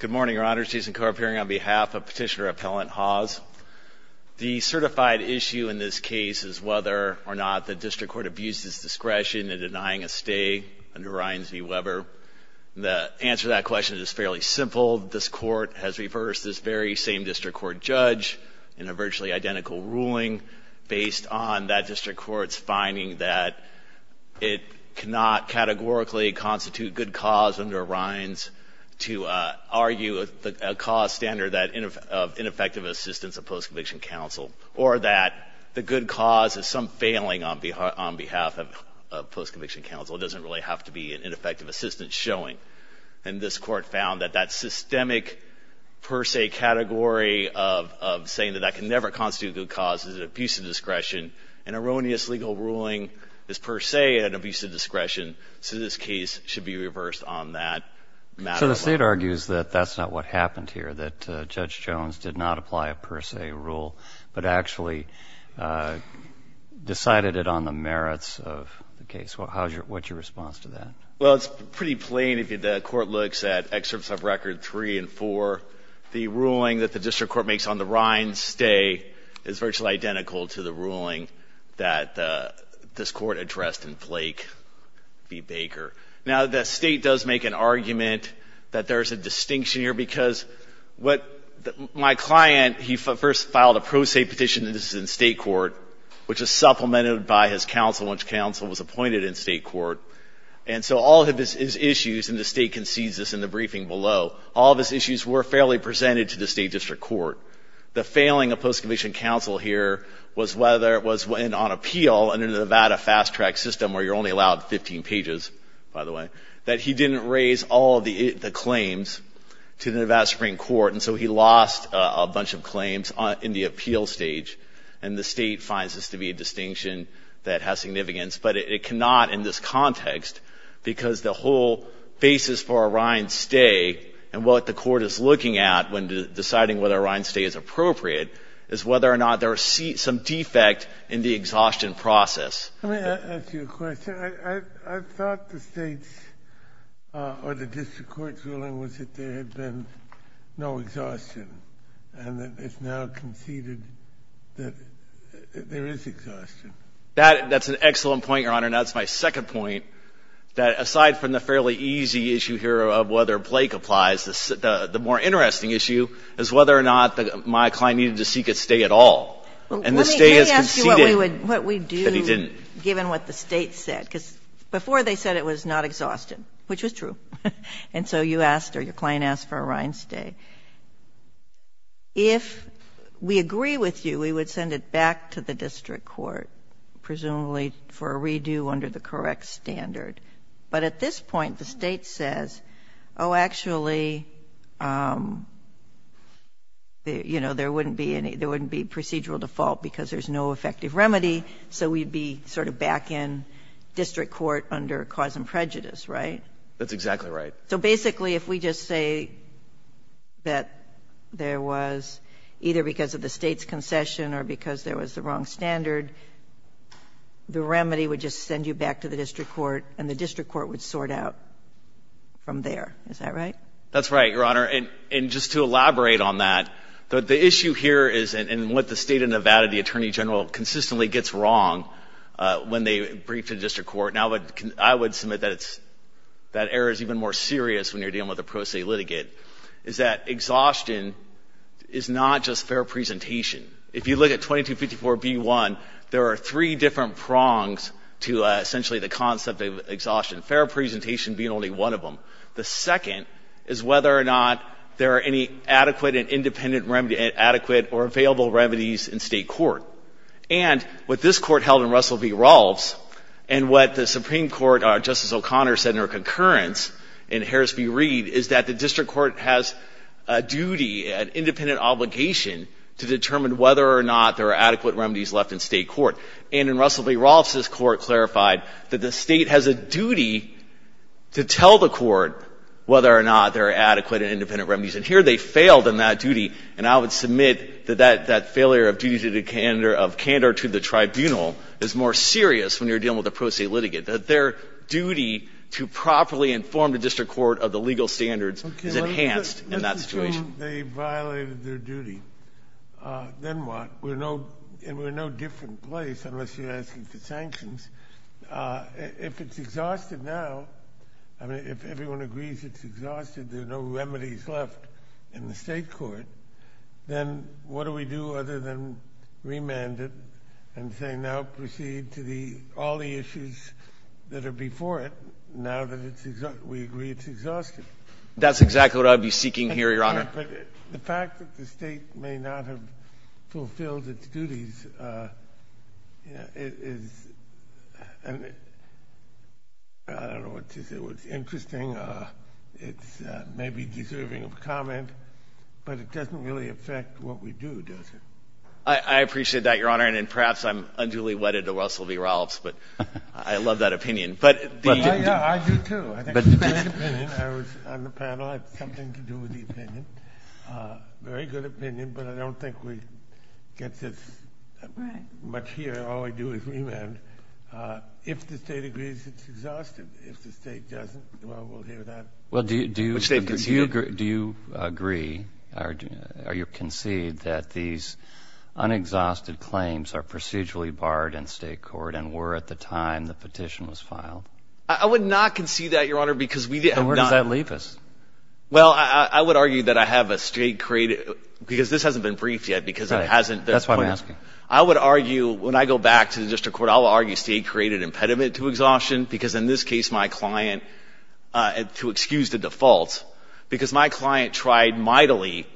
Good morning, Your Honors. Jason Corp here on behalf of Petitioner Appellant Hawes. The certified issue in this case is whether or not the District Court abuses discretion in denying a stay under Ryan Z. Weber. The answer to that question is fairly simple. This Court has reversed this very same District Court judge in a virtually identical ruling based on that District Court's finding that it cannot categorically constitute good cause under Ryan's to argue a cause standard of ineffective assistance of post-conviction counsel or that the good cause is some failing on behalf of post-conviction counsel. It doesn't really have to be an ineffective assistance showing. And this Court found that that systemic per se category of saying that that can never constitute good cause is an abuse of discretion. An erroneous legal ruling is per se an abuse of discretion. So this case should be reversed on that matter. So the State argues that that's not what happened here, that Judge Jones did not apply a per se rule but actually decided it on the merits of the case. What's your response to that? Well, it's pretty plain if the Court looks at excerpts of Record 3 and 4. The ruling that the District Court makes on the Ryan stay is virtually identical to the ruling that this Court addressed in Flake v. Baker. Now the State does make an argument that there's a distinction here because what my client he first filed a pro se petition, this is in State court, which is supplemented by his post-conviction counsel was appointed in State court. And so all of his issues, and the State concedes this in the briefing below, all of his issues were fairly presented to the State District Court. The failing of post-conviction counsel here was whether it was on appeal under the Nevada fast track system where you're only allowed 15 pages, by the way, that he didn't raise all of the claims to the Nevada Supreme Court. And so he lost a bunch of claims in the appeal stage. And the State finds this to be a distinction that has significance. But it cannot in this context because the whole basis for a Ryan stay and what the Court is looking at when deciding whether a Ryan stay is appropriate is whether or not there are some defect in the exhaustion process. Let me ask you a question. I thought the State's or the District Court's ruling was that there are conceded that there is exhaustion. That's an excellent point, Your Honor. And that's my second point, that aside from the fairly easy issue here of whether Blake applies, the more interesting issue is whether or not my client needed to seek a stay at all. And the stay is conceded that he didn't. Let me ask you what we do, given what the State said. Because before they said it was not exhausted, which was true. And so you asked or your client asked for a Ryan stay. If we agree with you, we would send it back to the District Court, presumably for a redo under the correct standard. But at this point, the State says, oh, actually, you know, there wouldn't be procedural default because there's no effective remedy. So we'd be sort of back in District Court under cause and prejudice, right? That's exactly right. So basically, if we just say that there was either because of the State's concession or because there was the wrong standard, the remedy would just send you back to the District Court, and the District Court would sort out from there. Is that right? That's right, Your Honor. And just to elaborate on that, the issue here is, and what the State and Nevada, the Attorney General, consistently gets wrong when they brief the District Court. I would submit that error is even more serious when you're dealing with a pro se litigate, is that exhaustion is not just fair presentation. If you look at 2254B1, there are three different prongs to essentially the concept of exhaustion, fair presentation being only one of them. The second is whether or not there are any adequate and independent, adequate or available remedies in State court. And what this Court held in Russell v. Rolfe's, and what the Supreme Court, Justice O'Connor said in her concurrence in Harris v. Reed, is that the District Court has a duty, an independent obligation to determine whether or not there are adequate remedies left in State court. And in Russell v. Rolfe's, this Court clarified that the State has a duty to tell the court whether or not there are adequate and independent remedies. And here they failed in that duty, and I would submit that that failure of duty to the candor of candor to the tribunal is more serious when you're dealing with a pro se litigate, that their duty to properly inform the District Court of the legal standards is enhanced in that situation. This is true they violated their duty. Then what? And we're no different place, unless you're asking for sanctions. If it's exhausted now, I mean, if everyone agrees it's exhausted, there are no remedies left in the State court, then what do we do other than remand it and say now proceed to all the issues that are before it, now that we agree it's exhausted? That's exactly what I'd be seeking here, Your Honor. But the fact that the State may not have fulfilled its duties is, I don't know what to say, it's interesting, it's maybe deserving of a comment, but it doesn't really affect what we do, does it? I appreciate that, Your Honor, and perhaps I'm unduly wedded to Russell V. Rollips, but I love that opinion. I do, too. I think it's a great opinion. I was on the panel. I have something to do with the opinion. Very good opinion, but I don't think we get this much here. All I do is remand. If the State agrees it's exhausted, if the State doesn't, well, we'll hear that. Do you agree or concede that these unexhausted claims are procedurally barred in State court and were at the time the petition was filed? I would not concede that, Your Honor, because we did not... Then where does that leave us? Well, I would argue that I have a State created, because this hasn't been briefed yet, because it hasn't... That's why I'm asking. I would argue, when I go back to the District Court, I'll argue State created an impediment to exhaustion, because in this case my client, to excuse the default, because my client tried mightily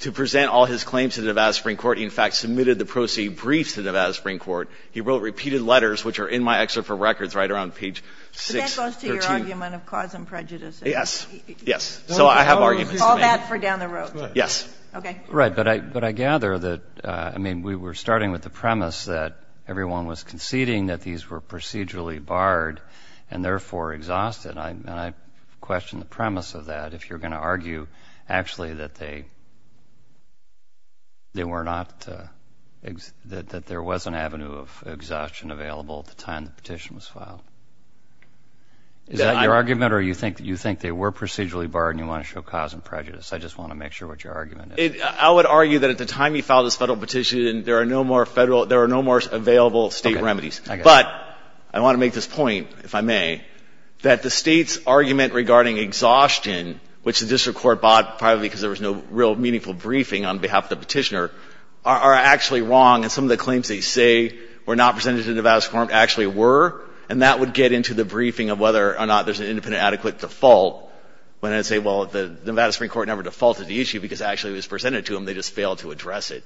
to present all his claims to Nevada Supreme Court. He, in fact, submitted the proceed briefs to Nevada Supreme Court. He wrote repeated letters, which are in my excerpt for records right around page 6 or 2. But that goes to your argument of cause and prejudices. Yes. Yes. So I have arguments to make. All that for down the road. Yes. Okay. Right. But I gather that, I mean, we were starting with the premise that everyone was conceding that these were procedurally barred and therefore exhausted. And I question the premise of that, if you're going to argue actually that they were not... That there was an avenue of exhaustion available at the time the petition was filed. Is that your argument or you think they were procedurally barred and you want to show cause and prejudice? I just want to make sure what your argument is. I would argue that at the time we filed this Federal petition, there are no more Federal — there are no more available State remedies. Okay. I get it. But I want to make this point, if I may, that the State's argument regarding exhaustion, which the District Court bought privately because there was no real meaningful briefing on behalf of the petitioner, are actually wrong. And some of the claims they say were not presented to Nevada Supreme Court actually were. And that would get into the briefing of whether or not there's an independent, adequate default. When I say, well, the Nevada Supreme Court presented it to them, they just failed to address it.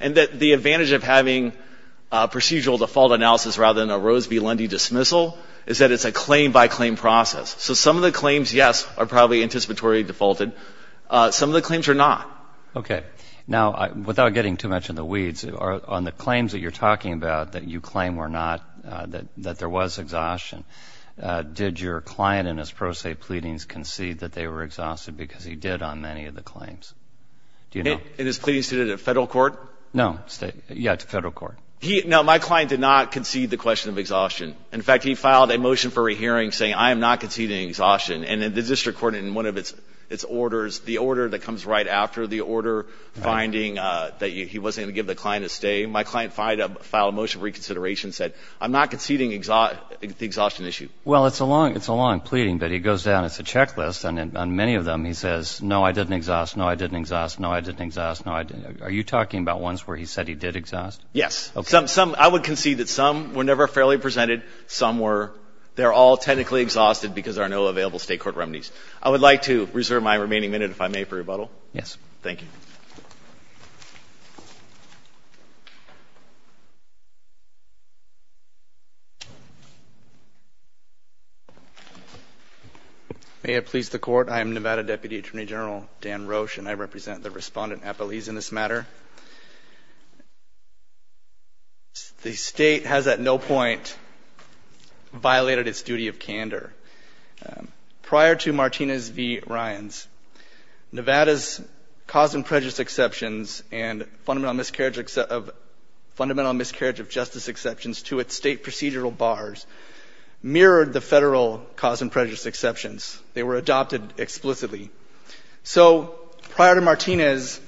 And the advantage of having procedural default analysis rather than a Rose v. Lundy dismissal is that it's a claim-by-claim process. So some of the claims, yes, are probably anticipatorily defaulted. Some of the claims are not. Okay. Now, without getting too much in the weeds, on the claims that you're talking about that you claim were not — that there was exhaustion, did your client in his pro se pleadings concede that they were exhausted because he did on many of the claims? Do you know? In his pleadings to the Federal Court? No. State — yeah, to Federal Court. He — no, my client did not concede the question of exhaustion. In fact, he filed a motion for a hearing saying, I am not conceding exhaustion. And the District Court in one of its orders, the order that comes right after the order finding that he wasn't going to give the client a stay, my client filed a motion for reconsideration, said, I'm not conceding exhaustion issue. Well, it's a long — it's a long pleading, but he goes down, it's a checklist, and on many of them he says, no, I didn't exhaust, no, I didn't exhaust, no, I didn't exhaust, no, I didn't — are you talking about ones where he said he did exhaust? Yes. Okay. Some — some — I would concede that some were never fairly presented. Some were — they're all technically exhausted because there are no available State court remedies. I would like to reserve my remaining minute, if I may, for rebuttal. Yes. Thank you. May it please the Court, I am Nevada Deputy Attorney General Dan Roche, and I represent the Respondent, Appalese, in this matter. The State has at no point violated its duty of candor. Prior to Martinez v. Ryans, Nevada's cause and prejudice exceptions and fundamental miscarriage of — fundamental miscarriage of justice exceptions to its State procedural bars mirrored the Federal cause and prejudice exceptions. They were adopted explicitly. So, prior to Martinez,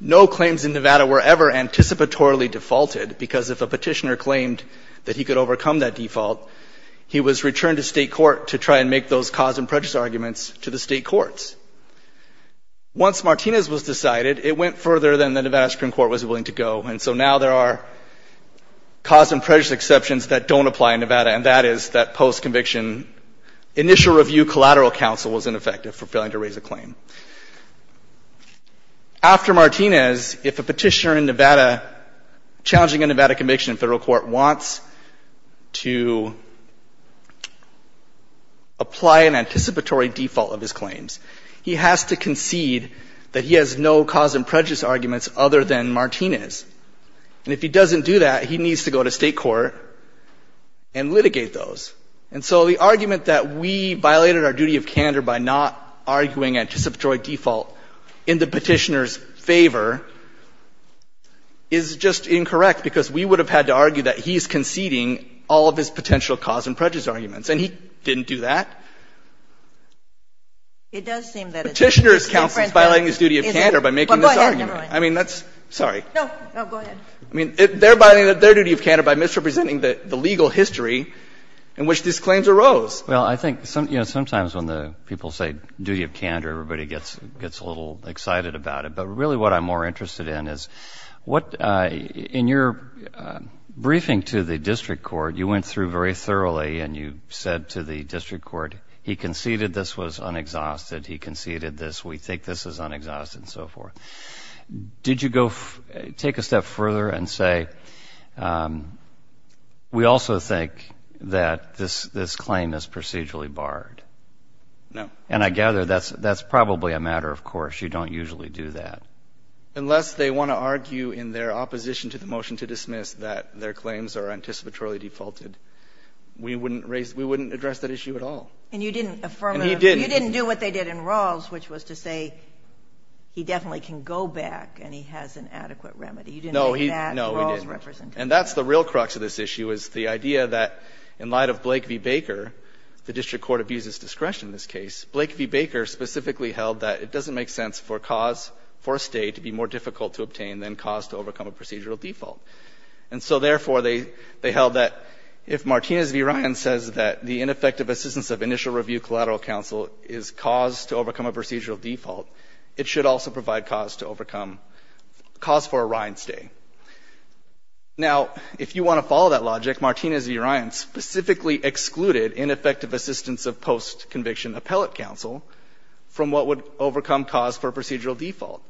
no claims in Nevada were ever anticipatorily defaulted because if a petitioner claimed that he could overcome that default, he was returned to State court to try and make those cause and prejudice arguments to the State courts. Once Martinez was decided, it went further than the Nevada Supreme Court was willing to go, and so now there are cause and prejudice exceptions that don't apply in Nevada, and that is that post-conviction initial review collateral counsel was ineffective for failing to raise a claim. After Martinez, if a petitioner in Nevada challenging a Nevada conviction in Federal court wants to apply an anticipatory default of his claims, he has to concede that he has no cause and prejudice arguments other than Martinez. And if he doesn't do that, he needs to go to State court and litigate those. And so the argument that we violated our duty of candor by not arguing anticipatory default in the petitioner's favor is just incorrect because we would have had to argue that he is conceding all of his potential cause and prejudice arguments, and he didn't do that. Petitioner's counsel is violating his duty of candor by making this argument. I mean, that's sorry. No. No, go ahead. I mean, they're violating their duty of candor by misrepresenting the legal history in which these claims arose. Well, I think, you know, sometimes when the people say duty of candor, everybody gets a little excited about it. But really what I'm more interested in is what, in your briefing to the district court, you went through very thoroughly and you said to the district court, he could conceded this was unexhausted, he conceded this, we think this is unexhausted, and so forth. Did you go take a step further and say, we also think that this claim is procedurally barred? No. And I gather that's probably a matter of course. You don't usually do that. Unless they want to argue in their opposition to the motion to dismiss that their claims are anticipatorily defaulted, we wouldn't address that issue at all. And you didn't affirm it. And he didn't. You didn't do what they did in Rawls, which was to say he definitely can go back and he has an adequate remedy. You didn't make that Rawls representation. No, we didn't. And that's the real crux of this issue, is the idea that in light of Blake v. Baker, the district court abuses discretion in this case, Blake v. Baker specifically held that it doesn't make sense for a cause for a State to be more difficult to obtain than cause to overcome a procedural default. And so, therefore, they held that if Martinez v. Orion's initial review collateral counsel is cause to overcome a procedural default, it should also provide cause to overcome, cause for Orion's stay. Now, if you want to follow that logic, Martinez v. Orion specifically excluded ineffective assistance of post-conviction appellate counsel from what would overcome cause for procedural default.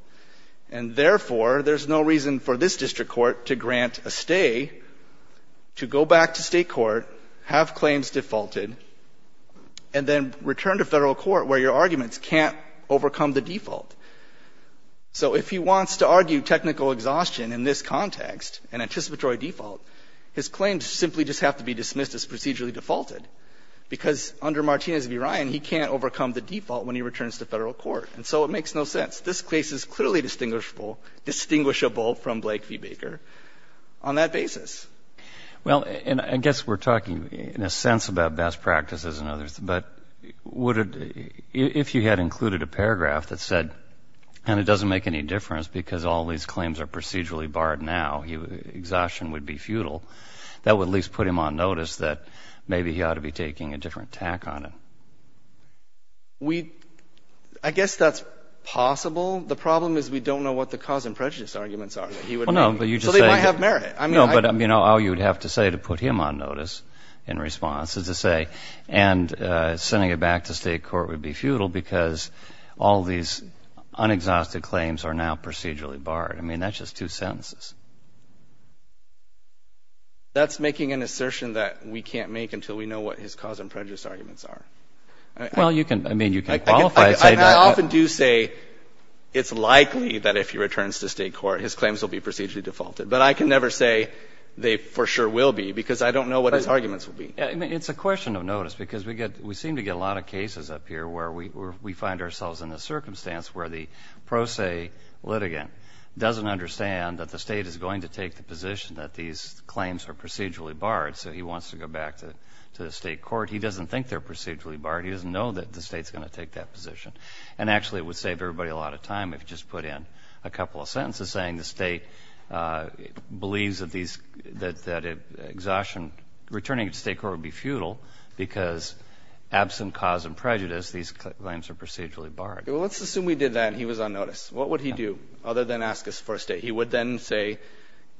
And, therefore, there's no reason for this district court to grant a stay to go back to State court, have claims defaulted, and then return to Federal court where your arguments can't overcome the default. So if he wants to argue technical exhaustion in this context, an anticipatory default, his claims simply just have to be dismissed as procedurally defaulted because under Martinez v. Orion, he can't overcome the default when he returns to Federal court. And so it makes no sense. This case is clearly distinguishable from Blake v. Baker on that basis. Well, and I guess we're talking in a sense about best practices and others, but would it, if you had included a paragraph that said, and it doesn't make any difference because all these claims are procedurally barred now, exhaustion would be futile, that would at least put him on notice that maybe he ought to be taking a different tack on it. We, I guess that's possible. The problem is we don't know what the cause and prejudice arguments are that he would make. So they might have merit. No, but, you know, all you would have to say to put him on notice in response is to say, and sending it back to State court would be futile because all these unexhausted claims are now procedurally barred. I mean, that's just two sentences. That's making an assertion that we can't make until we know what his cause and prejudice arguments are. Well, you can, I mean, you can qualify. I often do say it's likely that if he returns to State court, his claims will be procedurally defaulted. But I can never say they for sure will be because I don't know what his arguments will be. It's a question of notice because we get, we seem to get a lot of cases up here where we find ourselves in a circumstance where the pro se litigant doesn't understand that the State is going to take the position that these claims are procedurally barred. So he wants to go back to the State court. He doesn't think they're procedurally barred. He doesn't know that the State's going to take that position. And actually it would save everybody a lot of time if you just put in a couple of sentences saying the State believes that these, that exhaustion, returning to State court would be futile because absent cause and prejudice, these claims are procedurally barred. Well, let's assume we did that and he was on notice. What would he do other than ask us for a State? He would then say,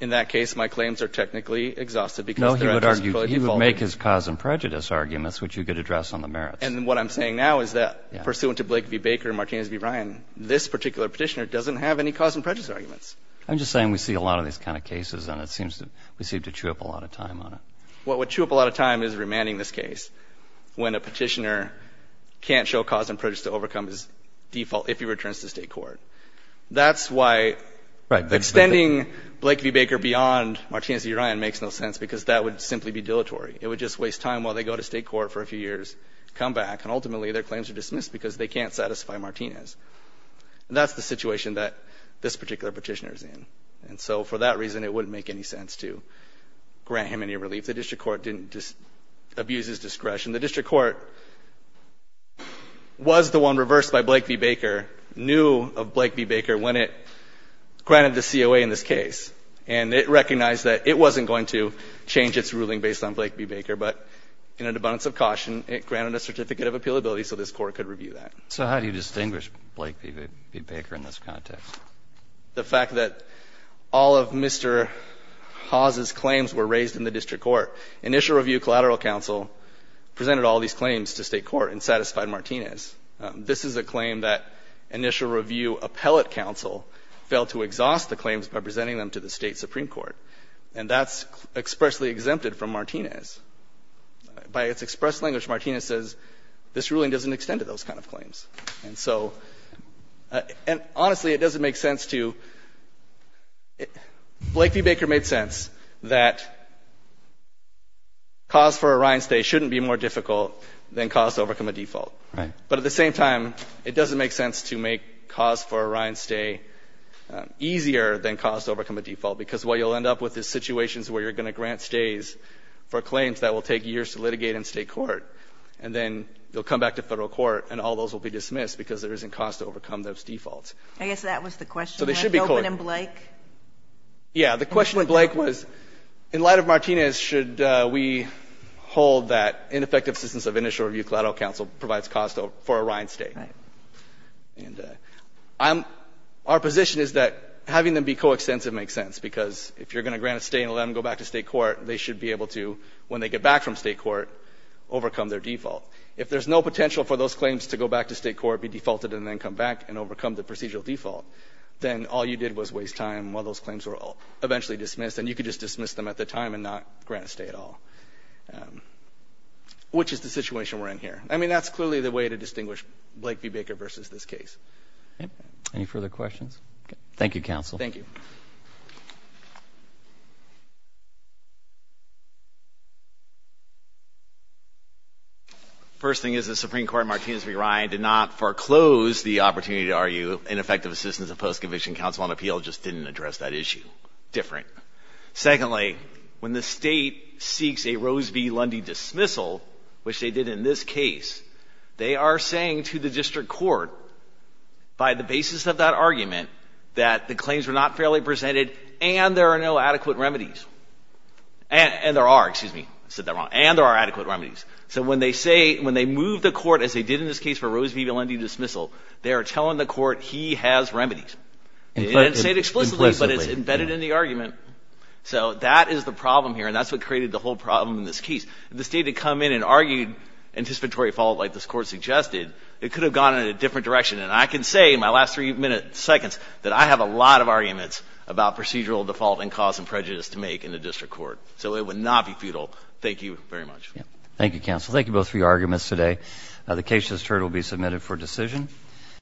in that case, my claims are technically exhausted because they're No, he would argue, he would make his cause and prejudice arguments, which you could address on the merits. And what I'm saying now is that pursuant to Blake v. Baker and Martinez v. Urion, he would make his cause and prejudice arguments. I'm just saying we see a lot of these kind of cases and it seems to, we seem to chew up a lot of time on it. What would chew up a lot of time is remanding this case when a petitioner can't show cause and prejudice to overcome his default if he returns to State court. That's why extending Blake v. Baker beyond Martinez v. Urion makes no sense because that would simply be dilatory. It would just waste time while they go to State court for a few years, come back, and ultimately their claims are dismissed because they can't satisfy Martinez. And that's the situation that this particular petitioner is in. And so for that reason, it wouldn't make any sense to grant him any relief. The district court didn't just abuse his discretion. The district court was the one reversed by Blake v. Baker, knew of Blake v. Baker when it granted the COA in this case. And it recognized that it wasn't going to change its ruling based on Blake v. Baker, but in an abundance of caution, it granted a certificate of appealability so this Court could review that. So how do you distinguish Blake v. Baker in this context? The fact that all of Mr. Hawes' claims were raised in the district court. Initial review collateral counsel presented all these claims to State court and satisfied Martinez. This is a claim that initial review appellate counsel failed to exhaust the claims by presenting them to the State supreme court. And that's expressly exempted from Martinez. By its express language, Martinez says this ruling doesn't extend to those kind of claims. And so, and honestly, it doesn't make sense to, Blake v. Baker made sense that cause for a Ryan stay shouldn't be more difficult than cause to overcome a default. Right. But at the same time, it doesn't make sense to make cause for a Ryan stay easier than cause to overcome a default, because what you'll end up with is situations where you're going to grant stays for claims that will take years to litigate in State court. And then they'll come back to Federal court and all those will be dismissed because there isn't cause to overcome those defaults. I guess that was the question. So they should be courted. Open in Blake? Yeah. The question with Blake was, in light of Martinez, should we hold that ineffective assistance of initial review collateral counsel provides cause for a Ryan stay? Right. And I'm, our position is that having them be coextensive makes sense because if you're going to go back to State court, they should be able to, when they get back from State court, overcome their default. If there's no potential for those claims to go back to State court, be defaulted, and then come back and overcome the procedural default, then all you did was waste time while those claims were eventually dismissed. And you could just dismiss them at the time and not grant a stay at all, which is the situation we're in here. I mean, that's clearly the way to distinguish Blake v. Baker versus this case. Any further questions? Thank you, counsel. Thank you. First thing is the Supreme Court in Martinez v. Ryan did not foreclose the opportunity to argue ineffective assistance of post-conviction counsel on appeal, just didn't address that issue. Different. Secondly, when the State seeks a Rose v. Lundy dismissal, which they did in this case, they are saying to the district court, by the basis of that argument, that the claims were not fairly presented and there are no adequate remedies. And there are. Excuse me. I said that wrong. And there are adequate remedies. So when they say, when they move the court, as they did in this case for Rose v. Lundy dismissal, they are telling the court he has remedies. They didn't say it explicitly, but it's embedded in the argument. So that is the problem here, and that's what created the whole problem in this case. If the State had come in and argued anticipatory fault like this Court suggested, it could have gone in a different direction. And I can say in my last three minutes, seconds, that I have a lot of arguments about So it would not be futile. Thank you very much. Thank you, counsel. Thank you both for your arguments today. The case is adjourned. It will be submitted for decision.